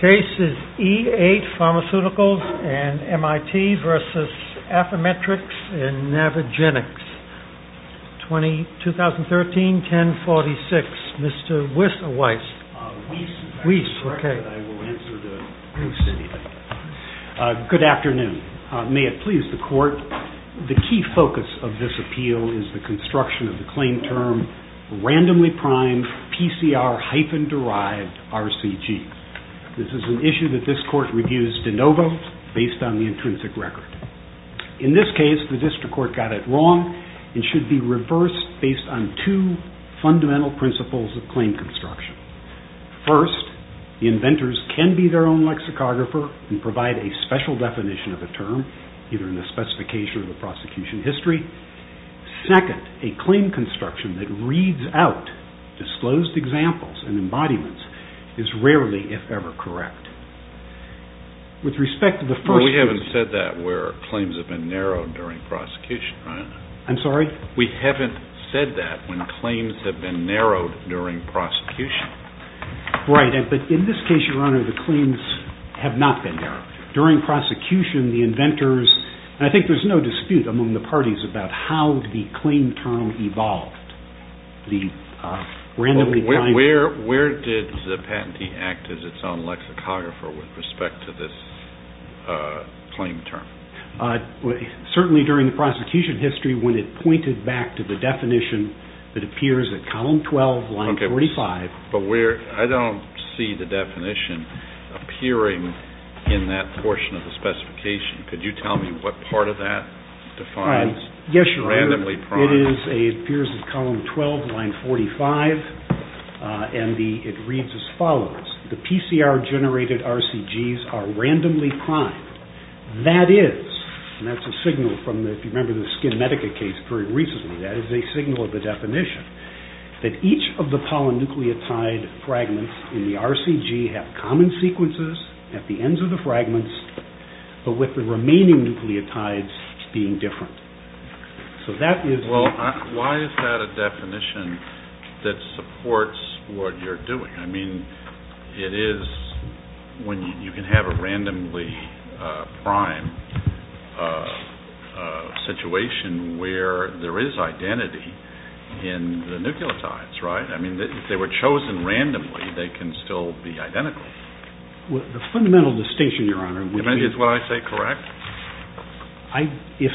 Case is E8 PHARMACEUTICALS and MIT v. AFFYMETRIX and NAVAGENICS, 2013-10-46, Mr. Weiss. Good afternoon. May it please the court, the key focus of this appeal is the construction of the claim term, randomly primed PCR-derived RCG. This is an issue that this court reviews de novo based on the intrinsic record. In this case, the district court got it wrong and should be reversed based on two fundamental principles of claim construction. First, the inventors can be their own lexicographer and provide a special definition of a term, either reads out disclosed examples and embodiments is rarely, if ever, correct. With respect to the first... We haven't said that where claims have been narrowed during prosecution. We haven't said that when claims have been narrowed during prosecution. Right, but in this case, Your Honor, the claims have not been narrowed. During prosecution, the inventors... Where did the patentee act as its own lexicographer with respect to this claim term? Certainly during the prosecution history when it pointed back to the definition that appears at column 12, line 45. But I don't see the definition appearing in that portion of the specification. Could you read it? It appears at column 12, line 45, and it reads as follows. The PCR-generated RCGs are randomly primed. That is, and that's a signal from the, if you remember the Skin Medica case very recently, that is a signal of the definition that each of the polynucleotide fragments in the RCG have common sequences at the ends of the fragments, but with the Why is that a definition that supports what you're doing? I mean, it is when you can have a randomly primed situation where there is identity in the nucleotides, right? I mean, if they were chosen randomly, they can still be identical. The fundamental distinction, Your Honor, is what I say correct? If,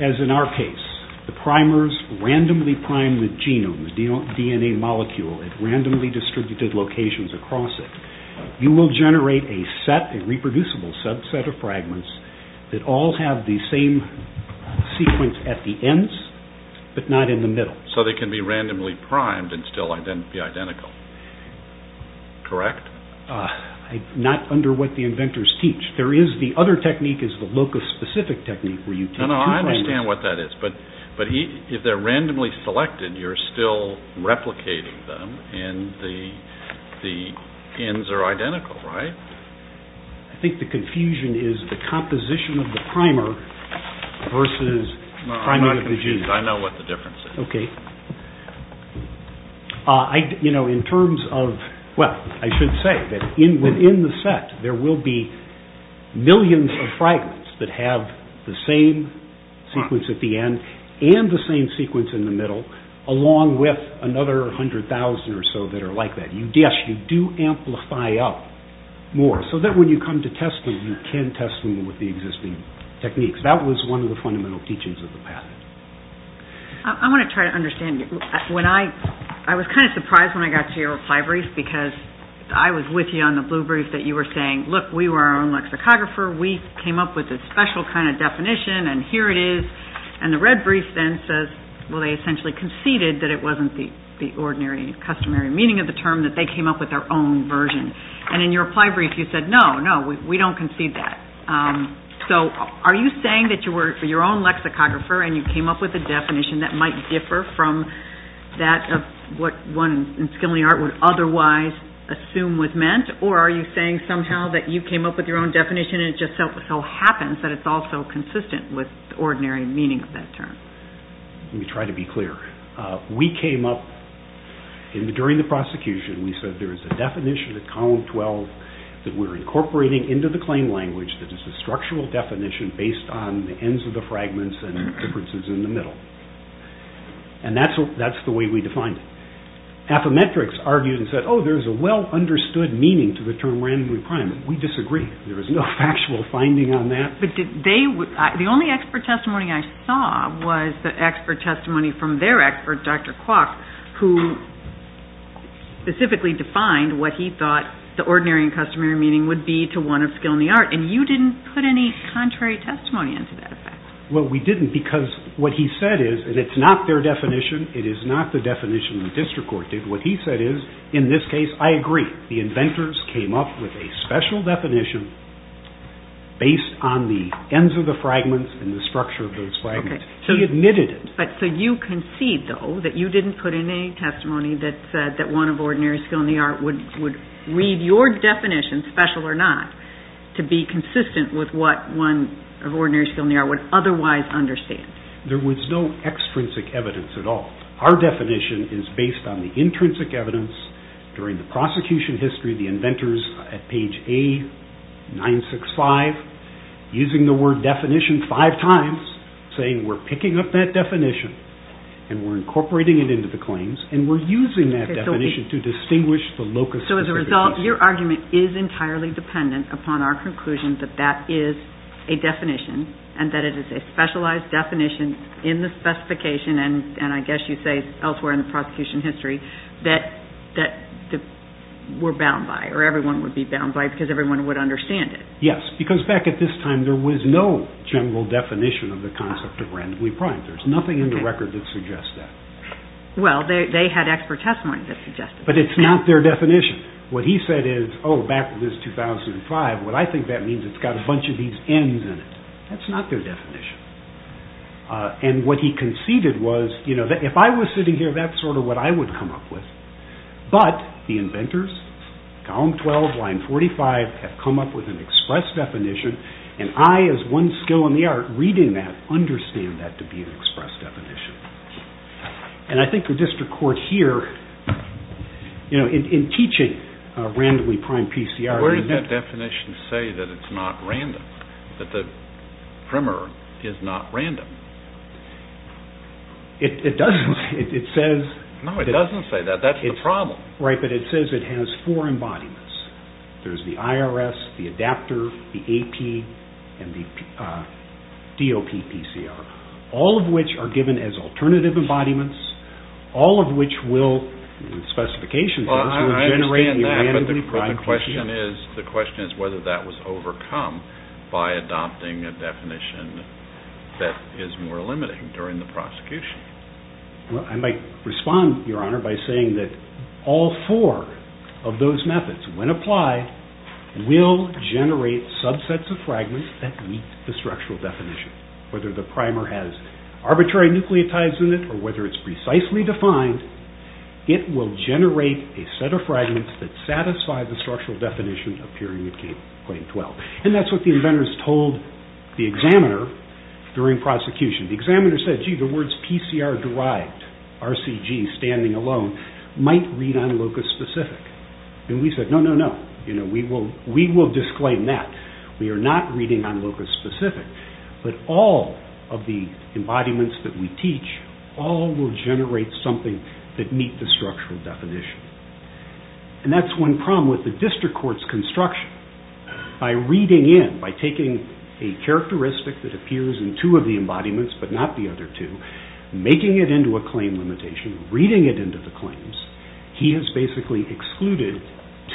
as in our case, the primers randomly prime the genome, the DNA molecule at randomly distributed locations across it, you will generate a set, a reproducible subset of fragments that all have the same sequence at the ends, but not in the middle. So they can be randomly primed and still be identical, correct? Not under what the inventors teach. There is the other technique is the locus-specific technique where you take two primers. No, no, I understand what that is, but if they're randomly selected, you're still replicating them and the ends are identical, right? I think the confusion is the composition of the primer versus priming of the genome. No, I'm not confused. I know what the there will be millions of fragments that have the same sequence at the end and the same sequence in the middle, along with another 100,000 or so that are like that. Yes, you do amplify up more, so that when you come to testing, you can test them with the existing techniques. That was one of the fundamental teachings of the patent. I want to try to understand. I was kind of surprised when I got to your reply brief, because I was with you on the blue brief that you were saying, look, we were our own lexicographer. We came up with a special kind of definition, and here it is. And the red brief then says, well, they essentially conceded that it wasn't the ordinary customary meaning of the term, that they came up with their own version. And in your reply brief, you said, no, no, we don't concede that. So are you saying that you were your own lexicographer and you came up with a definition that might differ from that of what one in skilling art would otherwise assume was meant, or are you saying somehow that you came up with your own definition and it just so happens that it's also consistent with the ordinary meaning of that term? Let me try to be clear. We came up, during the prosecution, we said there is a definition of column 12 that we're incorporating into the claim language that is a structural definition based on the ends of the fragments and differences in the middle. And that's the way we defined it. Affymetrix argued and said, oh, there's a well-understood meaning to the term randomly primed. We disagree. There is no factual finding on that. The only expert testimony I saw was the expert testimony from their expert, Dr. Kwok, who specifically defined what he thought the ordinary and customary meaning would be to one of skill and the art, and you didn't put any contrary testimony into that effect. Well, we didn't because what he said is, and it's not their definition, it is not the definition the district court did. What he said is, in this case, I agree. The inventors came up with a special definition based on the ends of the fragments and the structure of those fragments. He admitted it. So you concede, though, that you didn't put in a testimony that said that one of ordinary skill and the art would read your definition, special or not, to be consistent with what one of ordinary skill and the art would otherwise understand. There was no extrinsic evidence at all. Our definition is based on the intrinsic evidence during the prosecution history, the inventors at page A965, using the word definition five times, saying we're picking up that definition and we're incorporating it into the claims and we're using that definition to distinguish the locus. So as a result, your argument is entirely dependent upon our conclusion that that is a specialized definition in the specification, and I guess you say elsewhere in the prosecution history, that we're bound by or everyone would be bound by because everyone would understand it. Yes, because back at this time, there was no general definition of the concept of randomly primed. There's nothing in the record that suggests that. Well, they had expert testimony that suggested that. But it's not their definition. What he said is, oh, back to this 2005, what I think that means is it's got a bunch of these N's in it. That's not their definition. And what he conceded was, you know, if I was sitting here, that's sort of what I would come up with. But the inventors, column 12, line 45, have come up with an express definition, and I, as one skill in the art, reading that, understand that to be an express definition. And I think the district court here, you know, in teaching randomly primed PCR, Where does that definition say that it's not random? That the primer is not random? It doesn't. It says... No, it doesn't say that. That's the problem. Right, but it says it has four embodiments. There's the IRS, the adapter, the AP, and the DOP PCR, all of which are given as alternative embodiments, all of which will, in the specifications, Well, I agree on that, but the question is whether that was overcome by adopting a definition that is more limiting during the prosecution. Well, I might respond, Your Honor, by saying that all four of those methods, when applied, will generate subsets of fragments that meet the structural definition. Whether the primer has arbitrary nucleotides in it, or whether it's precisely defined, it will generate a set of fragments that satisfy the structural definition of Periodic Claim 12. And that's what the inventors told the examiner during prosecution. The examiner said, Gee, the words PCR derived, RCG, standing alone, might read on locus specific. And we said, No, no, no. We will disclaim that. We are not reading on locus specific. But all of the embodiments that we teach, all will generate something that meets the structural definition. And that's one problem with the district court's construction. By reading in, by taking a characteristic that appears in two of the embodiments, but not the other two, making it into a claim limitation, reading it into the claims, he has basically excluded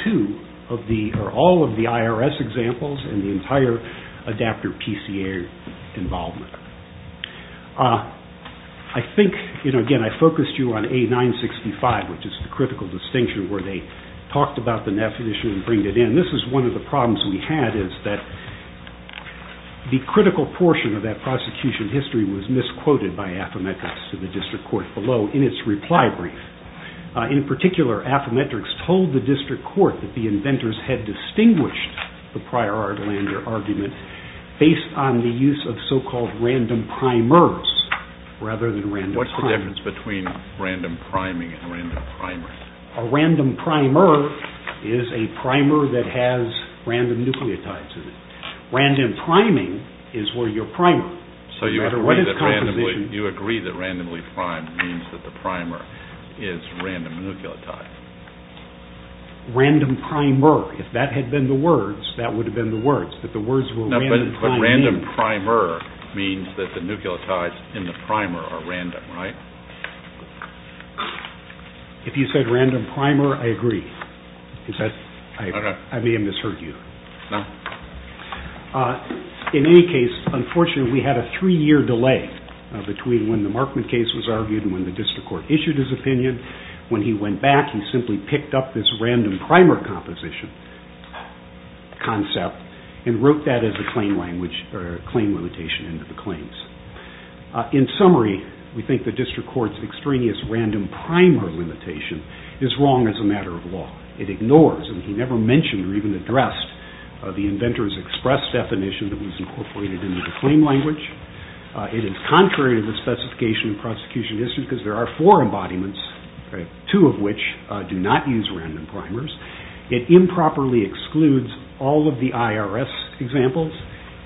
two of the, or all of the IRS examples and the entire adapter PCR involvement. I think, you know, again, I focused you on A-965, which is the critical distinction where they talked about the NEF issue and bring it in. This is one of the problems we had is that the critical portion of that prosecution history was misquoted by Affymetrix to the district court below in its reply brief. In particular, Affymetrix told the district court that the inventors had distinguished the prior argument based on the use of so-called random primers rather than random primers. What's the difference between random priming and random primers? A random primer is a primer that has random nucleotides in it. Random priming is where your primer. So you agree that randomly primed means that the primer is random nucleotide? Random primer. If that had been the words, that would have been the words. But random primer means that the nucleotides in the primer are random, right? If you said random primer, I agree. I may have misheard you. In any case, unfortunately, we had a three-year delay between when the Markman case was argued and when the district court issued his opinion. When he went back, he simply picked up this random primer composition concept and wrote that as a claim limitation into the claims. In summary, we think the district court's extraneous random primer limitation is wrong as a matter of law. It ignores, and he never mentioned or even addressed the inventor's express definition that was incorporated into the claim language. It is contrary to the specification of the prosecution district because there are four embodiments, two of which do not use random primers. It improperly excludes all of the IRS examples.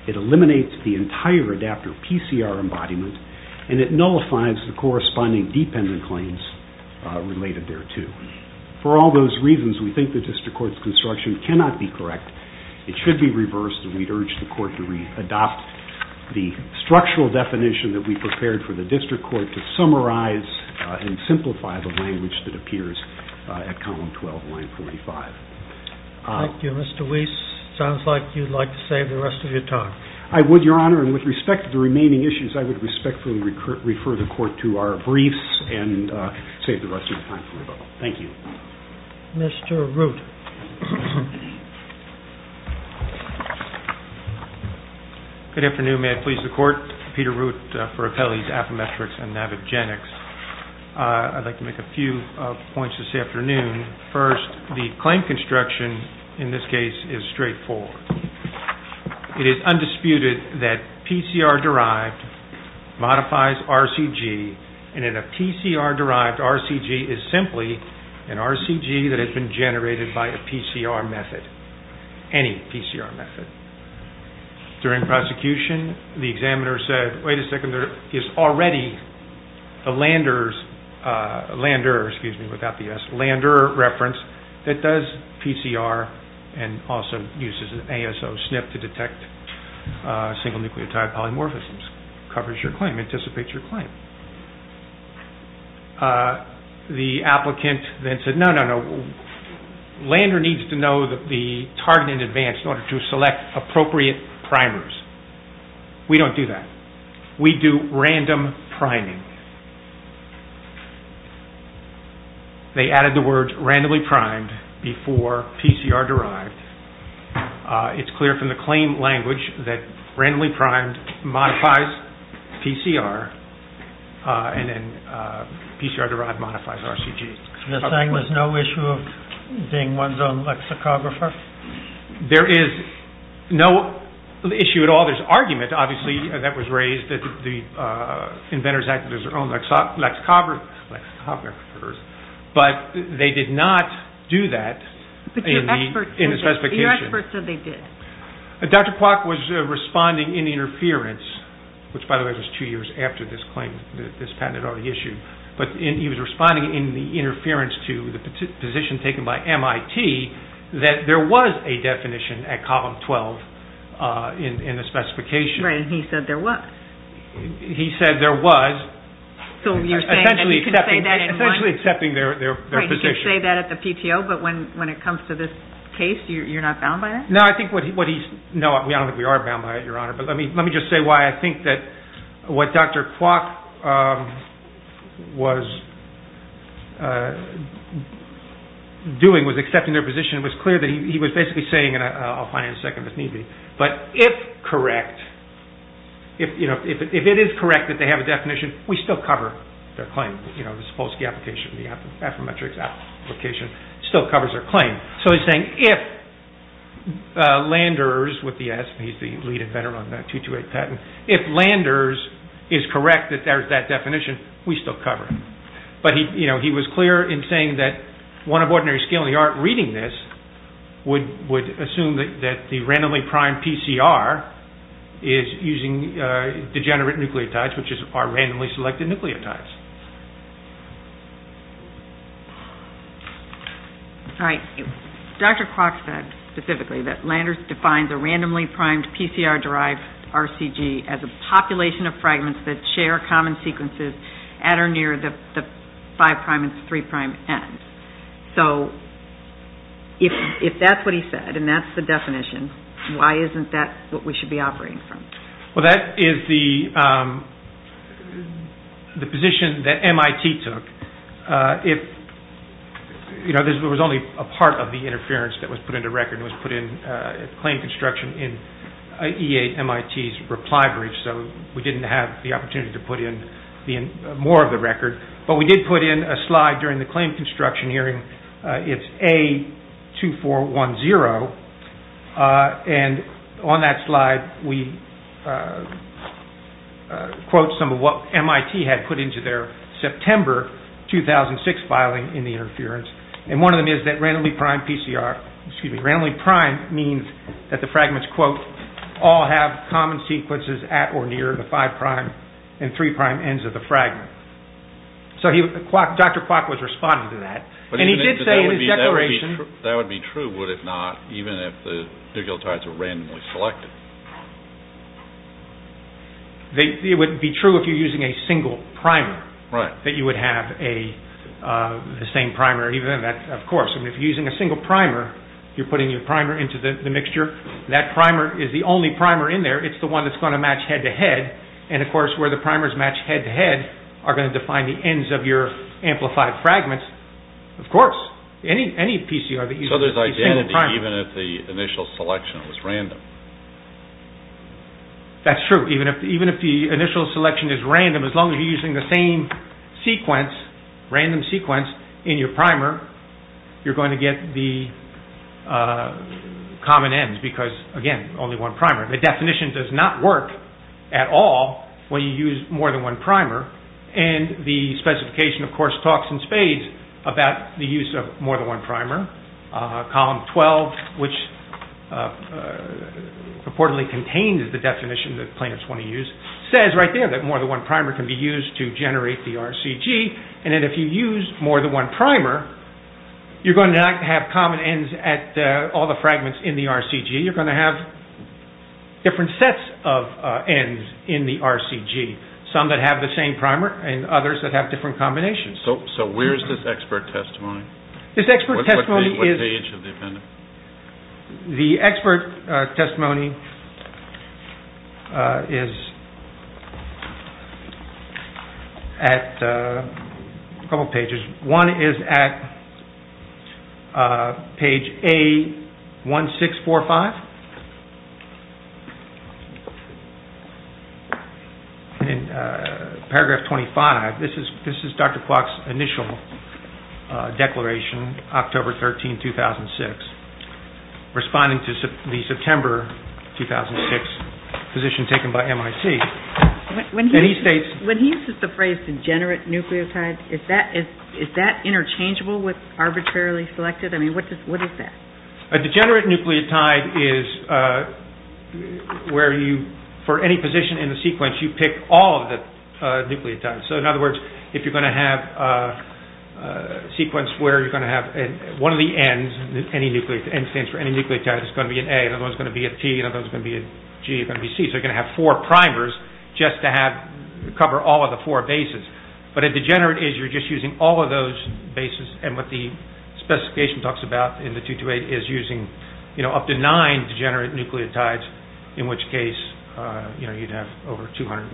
It eliminates the entire adapter PCR embodiment and it nullifies the corresponding dependent claims related thereto. For all those reasons, we think the district court's construction cannot be correct. It should be reversed and we urge the court to adopt the structural definition that we prepared for the district court to summarize and simplify the language that appears at column 12, line 45. Thank you, Mr. Weiss. Sounds like you'd like to save the rest of your time. I would, Your Honor, and with respect to the remaining issues, I would respectfully refer the court to our briefs and save the rest of my time for rebuttal. Thank you. Mr. Root. Good afternoon. May I please the court? Peter Root for Appellee's Affymetrics and Navigenics. I'd like to make a few points this afternoon. First, the claim construction in this case is straightforward. It is undisputed that PCR-derived modifies RCG and that a PCR-derived RCG is simply an RCG that has been generated by a PCR method, any PCR method. During prosecution, the examiner said, wait a second, there is already a lander reference that does PCR and also uses an ASO SNP to detect single nucleotide polymorphisms, covers your claim, anticipates your claim. The applicant then said, no, no, no, lander needs to know the target in advance in order to select appropriate primers. We don't do that. We do random priming. They added the word randomly primed before PCR-derived. It's clear from the claim language that randomly primed modifies PCR and then PCR-derived modifies RCG. There's no issue of being one's own lexicographer? There is no issue at all. There's argument, obviously, that was raised that the inventors acted as their own lexicographers, but they did not do that in the specification. Your expert said they did. Dr. Kwok was responding in interference, which, by the way, was two years after this patent issue, but he was responding in the interference to the position taken by MIT that there was a definition at column 12 in the specification. Right, and he said there was. He said there was, essentially accepting their position. He can say that at the PTO, but when it comes to this case, you're not bound by that? No, I don't think we are bound by it, Your Honor, but let me just say why. I think that what Dr. Kwok was doing was accepting their position. It was clear that he was basically saying, and I'll find it in a second if need be, but if correct, if it is correct that they have a definition, we still cover their claim. The Sapolsky application, the Affermetrix application still covers their claim. So he's saying if Landers, with the S, he's the lead inventor on that 228 patent, if Landers is correct that there's that definition, we still cover it. But he was clear in saying that one of ordinary skill in the art of reading this would assume that the randomly-primed PCR is using degenerate nucleotides, which are randomly-selected nucleotides. Dr. Kwok said specifically that Landers defines a randomly-primed PCR-derived RCG as a population of fragments that share common sequences at or near the 5' and 3' ends. So if that's what he said, and that's the definition, why isn't that what we should be operating from? Well, that is the position that MIT took. There was only a part of the interference that was put into record and was put in claim construction in E8 MIT's reply brief. So we didn't have the opportunity to put in more of the record. But we did put in a slide during the claim construction hearing. It's A2410. And on that slide, we quote some of what MIT had put into their September 2006 filing in the interference. And one of them is that randomly-primed PCR, excuse me, randomly-primed means that the fragments, quote, and 3' ends of the fragment. So Dr. Kwok was responding to that. And he did say in his declaration... That would be true, would it not, even if the nucleotides were randomly selected? It would be true if you're using a single primer, that you would have the same primer. Of course, if you're using a single primer, you're putting your primer into the mixture. That primer is the only primer in there. It's the one that's going to match head-to-head. And of course, where the primers match head-to-head, are going to define the ends of your amplified fragments. Of course, any PCR that uses a single primer. So there's identity even if the initial selection is random? That's true. Even if the initial selection is random, as long as you're using the same sequence, random sequence in your primer, you're going to get the common ends. Because again, only one primer. The definition does not work at all when you use more than one primer. And the specification, of course, talks in spades about the use of more than one primer. Column 12, which reportedly contains the definition that plaintiffs want to use, says right there that more than one primer can be used to generate the RCG. And if you use more than one primer, you're going to not have common ends at all the fragments in the RCG. You're going to have different sets of ends in the RCG. Some that have the same primer and others that have different combinations. So where is this expert testimony? This expert testimony is... What page of the appendix? The expert testimony is at a couple pages. One is at page A1645. And in paragraph 25, this is Dr. Clark's initial declaration, October 13, 2006, responding to the September 2006 position taken by MIT. And he states... When he uses the phrase degenerate nucleotide, is that interchangeable with arbitrarily selected? I mean, what is that? A degenerate nucleotide is... Where you... For any position in the sequence, you pick all of the nucleotides. So in other words, if you're going to have a sequence where you're going to have one of the ends, any nucleotide, N stands for any nucleotide, it's going to be an A, another one's going to be a T, another one's going to be a G, another one's going to be C. So you're going to have four primers just to cover all of the four bases. But a degenerate is you're just using all of those bases and what the specification talks about in the 228 is using up to nine degenerate nucleotides, in which case you'd have over 220,000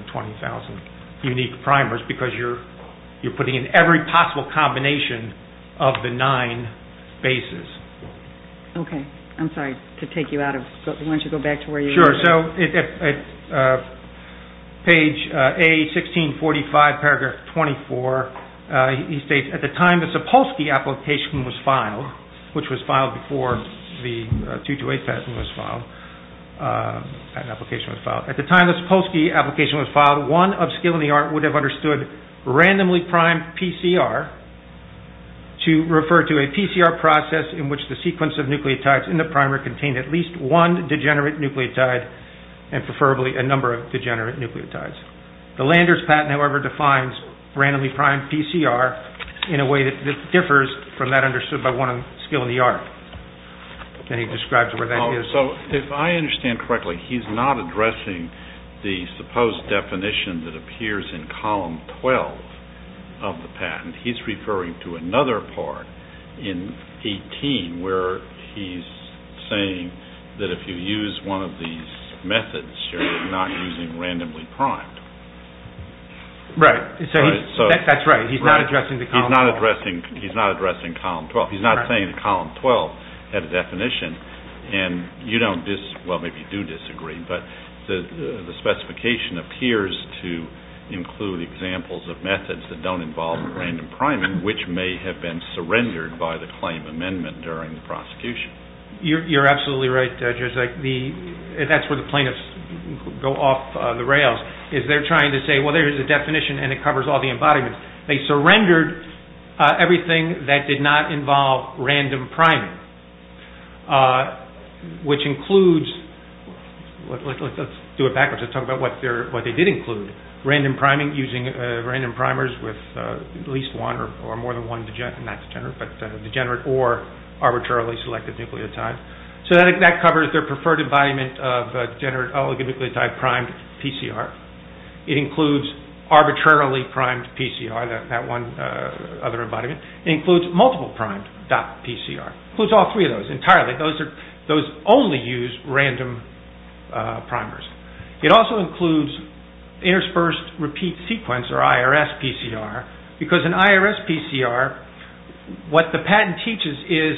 unique primers because you're putting in every possible combination of the nine bases. Okay. I'm sorry to take you out of... Why don't you go back to where you were? Sure. So page A1645, paragraph 24, he states... At the time the Sapolsky application was filed, which was filed before the 228 patent was filed, patent application was filed. At the time the Sapolsky application was filed, one of skill in the art would have understood randomly primed PCR to refer to a PCR process in which the sequence of nucleotides in the primer contained at least one degenerate nucleotide and preferably a number of degenerate nucleotides. The Landers patent, however, defines randomly primed PCR in a way that differs from that understood by one of skill in the art. Can you describe to where that is? So if I understand correctly, he's not addressing the supposed definition that appears in column 12 of the patent. He's referring to another part in 18 where he's saying that if you use one of these methods, you're not using randomly primed. Right. That's right. He's not addressing the column 12. He's not addressing column 12. He's not saying that column 12 has a definition and you don't disagree, well, maybe you do disagree, but the specification appears to include examples of methods that don't involve random priming which may have been surrendered by the claim amendment during the prosecution. You're absolutely right, Judge. That's where the plaintiffs go off the rails is they're trying to say, well, there's a definition and it covers all the embodiments. They surrendered everything that did not involve random priming which includes, let's do it backwards. Let's talk about what they did include. Random priming using random primers with at least one or more than one, not degenerate, but degenerate or arbitrarily selected nucleotide. So that covers their preferred embodiment of degenerate oligonucleotide primed PCR. It includes arbitrarily primed PCR, that one other embodiment, it includes multiple primed PCR. It includes all three of those entirely. Those only use random primers. It also includes interspersed repeat sequence or IRS PCR because in IRS PCR, what the patent teaches is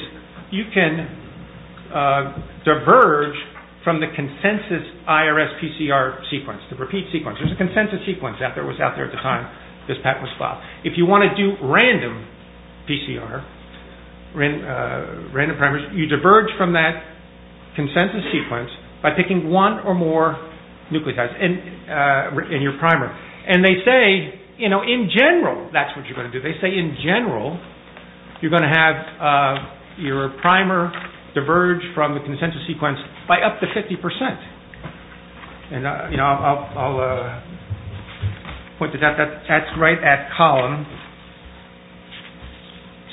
you can diverge from the consensus IRS PCR sequence, the repeat sequence. There's a consensus sequence that was out there at the time this patent was filed. If you want to do random PCR, random primers, you diverge from that consensus sequence by picking one or more nucleotides in your primer. They say in general, that's what you're going to do. They say in general, you're going to have your primer diverge from the consensus sequence by up to 50%. I'll point to that. That's right at column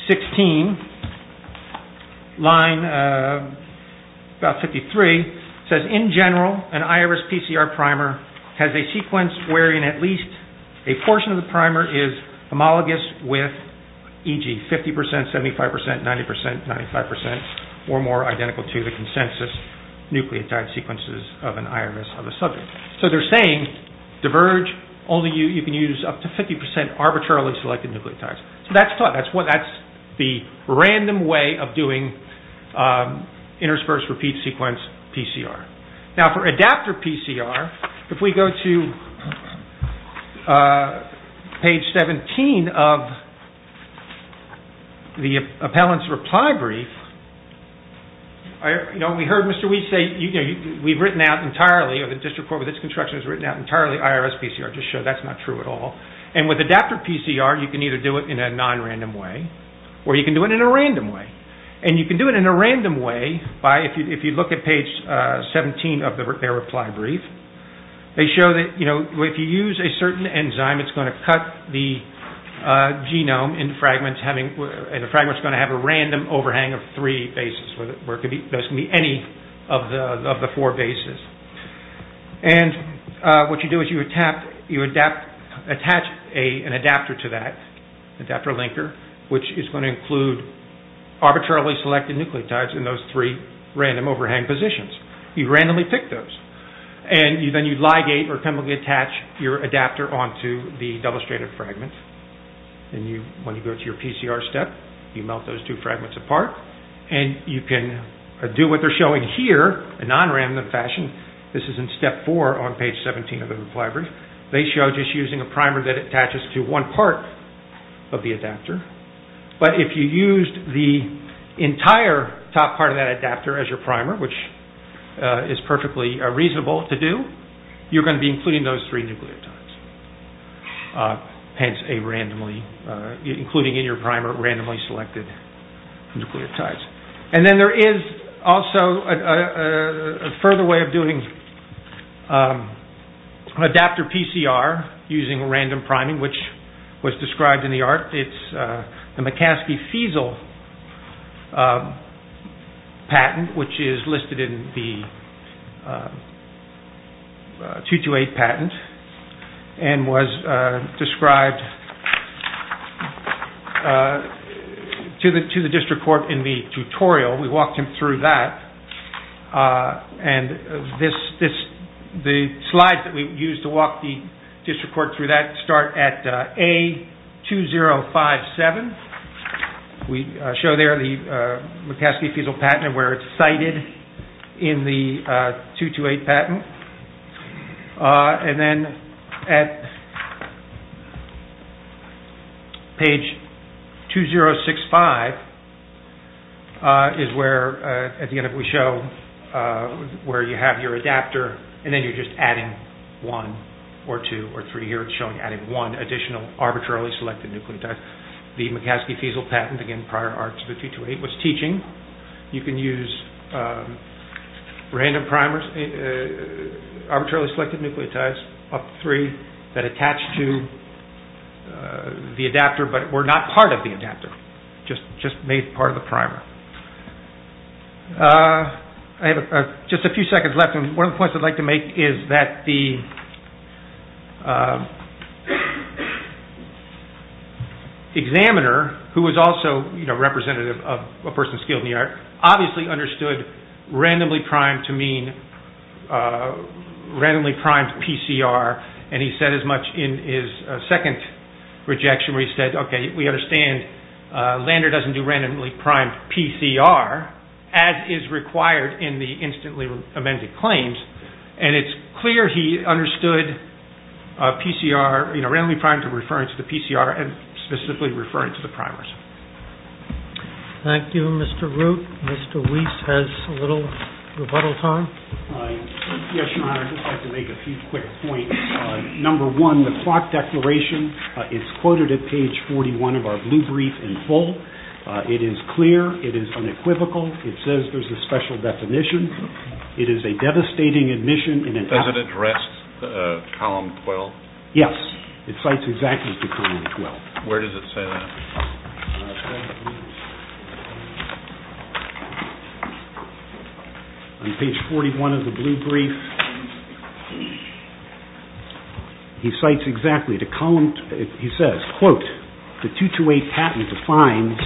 16, line about 53. It says in general, an IRS PCR primer has a sequence wherein at least a portion of the primer is homologous with e.g. 50%, 75%, 90%, 95% or more identical to the consensus nucleotide sequences of an IRS subject. They're saying diverge, only you can use up to 50% arbitrarily selected nucleotides. That's the random way of doing interspersed repeat sequence PCR. For adapter PCR, if we go to page 17 of the appellant's reply brief, we heard Mr. Weiss say we've written out entirely of the district court with its construction has written out entirely IRS PCR to show that's not true at all. With adapter PCR, you can either do it in a non-random way or you can do it in a random way. You can do it in a random way if you look at page 17 of their reply brief. They show that if you use a certain enzyme, it's going to cut the genome and the fragment's going to have a random overhang of three bases where it could be any of the four bases. What you do is you attach an adapter to that, adapter linker, which is going to include arbitrarily selected nucleotides in those three random overhang positions. You randomly pick those and then you ligate or chemically attach your adapter onto the demonstrated fragment. When you go to your PCR step, you melt those two fragments apart and you can do what they're showing here in a non-random fashion. This is in step four on page 17 of the reply brief. They show just using a primer that attaches to one part of the adapter. But if you used the entire top part of that adapter as your primer, which is perfectly reasonable to do, you're going to be including those three nucleotides. Hence, including in your primer randomly selected nucleotides. Then there is also a further way of doing adapter PCR using random priming, which was described in the art. It's the McCaskey-Fiesel patent, which is listed in the 228 patent and was described to the district court in the tutorial. We walked him through that. The slides that we used to walk the district court through that start at A2057. We show there the McCaskey-Fiesel patent where it's cited in the 228 patent. Then at page 2065 is where at the end we show where you have your adapter and then you're just adding one or two or three. Here it's showing adding one additional arbitrarily selected nucleotide. The McCaskey-Fiesel patent in prior arts of the 228 was teaching you can use random primers arbitrarily selected nucleotides of three that attach to the adapter but were not part of the adapter. Just made part of the primer. I have just a few seconds left and one of the points I'd like to make is that the examiner who was also representative of a person skilled in the art obviously understood randomly primed to mean randomly primed PCR and he said as much in his second rejection where he said we understand Lander doesn't do randomly primed PCR as is required in the instantly amended claims and it's clear he understood PCR randomly primed to referring to the PCR and specifically referring to the primers. Thank you Mr. Root Mr. Weiss has a little rebuttal time Yes your honor I'd just like to make a few quick points number one the clock declaration is quoted at page 41 of our blue brief in full it is clear it is unequivocal it says there's a special definition it is a devastating admission Does it address column 12? Yes it cites exactly column 12 Where does it say that? On page 41 of the blue brief he cites exactly the column he says quote the 228 patent defines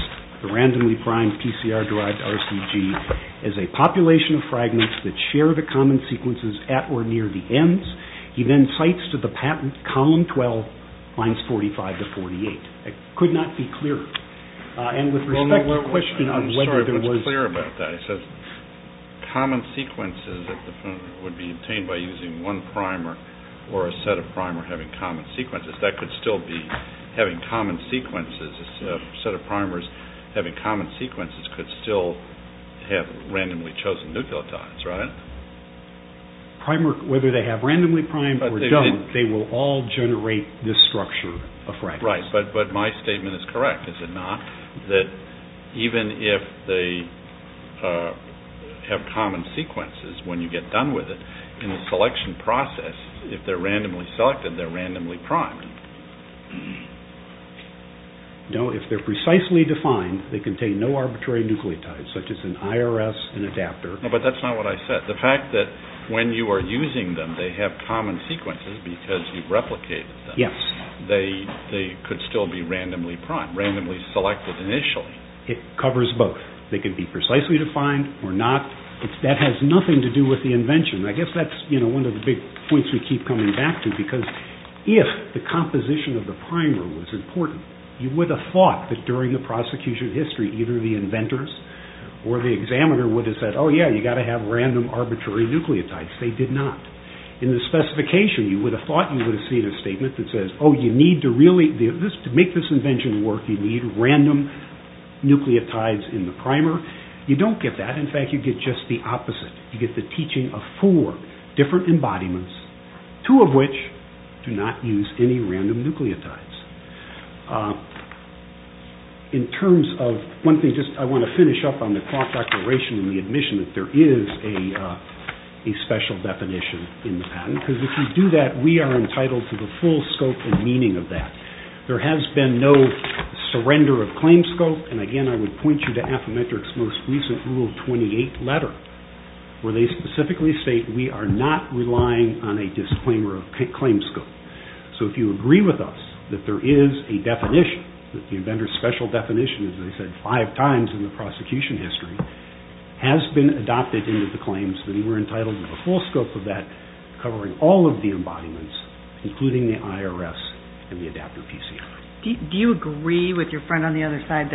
the randomly primed PCR derived RCG as a population of fragments that share the common sequences at or near the ends he then cites to the patent column 12 lines 45 to 48 it could not be clearer and with respect to the question I'm sorry if it was clear about that it says common sequences would be obtained by using one primer or a set of primer having common sequences that could still be having common sequences a set of primers having common sequences could still have randomly chosen nucleotides right? Primer whether they have randomly primed or don't they will all generate this structure of fragments right but my statement is correct is it not? that even if they have common sequences when you get done with it in the selection process if they're randomly selected they're randomly primed no if they're precisely defined they contain no arbitrary nucleotides such as an IRS an adapter but that's not what I said the fact that when you are using them they have common sequences because you've replicated them they could still be randomly primed randomly selected initially it covers both they could be precisely defined or not that has nothing to do with the invention I guess that's one of the big points we keep coming back to because if the composition of the primer was important you would have thought that during the prosecution history either the in the specification you would have thought you would have seen a statement that says to make this invention work you need random nucleotides in the primer you don't get that in fact you get just the opposite you get the teaching of four different embodiments two of which do not use any random nucleotides in terms of one thing I want to finish up on the clock declaration and the fact that there is a special definition in the patent because if we do that we are entitled to the full scope and meaning of that there has been no surrender of claim scope and again I would point you to Affymetrix most recent rule 28 letter where they specifically state we are not relying on a disclaimer or a claim scope so if you agree with us that there is a definition that the special definition as I said five times in the prosecution history has been adopted into the claims we are entitled to the full scope of that covering all of the embodiments including the IRS and the adapter PC do you agree with your opinion on the patent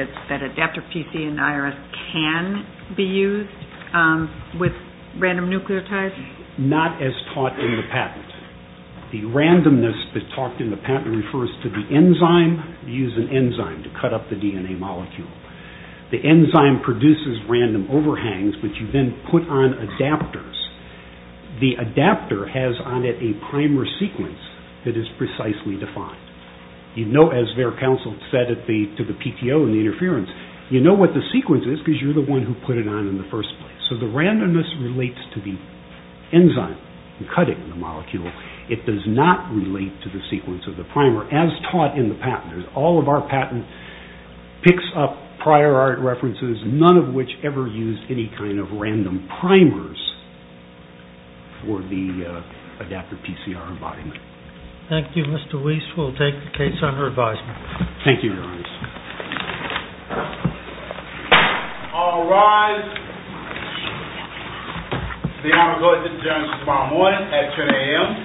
the randomness that talked in the patent refers to the enzyme you use an enzyme to cut up the DNA molecule the enzyme produces random overhangs which you then put on adapters the adapter has on it a primer sequence that is precisely defined you know as their counsel said to the PTO and the interference you know what the sequence is because you are the one who put it on in the first place so the randomness relates to the enzyme cutting the molecule it does not relate to the sequence of the primer as taught in the patent all of our patent picks up prior art references none of which ever used any kind of random primers for the adapter PCR embodiment thank you Mr. Weiss we'll take the case under advisement thank you your honor all rise the honor goes to Judge Balmoy at 10 a.m. thank honor I would like to present the case of Judge Balmoy at 10 a.m. thank you your honor Judge Balmoy at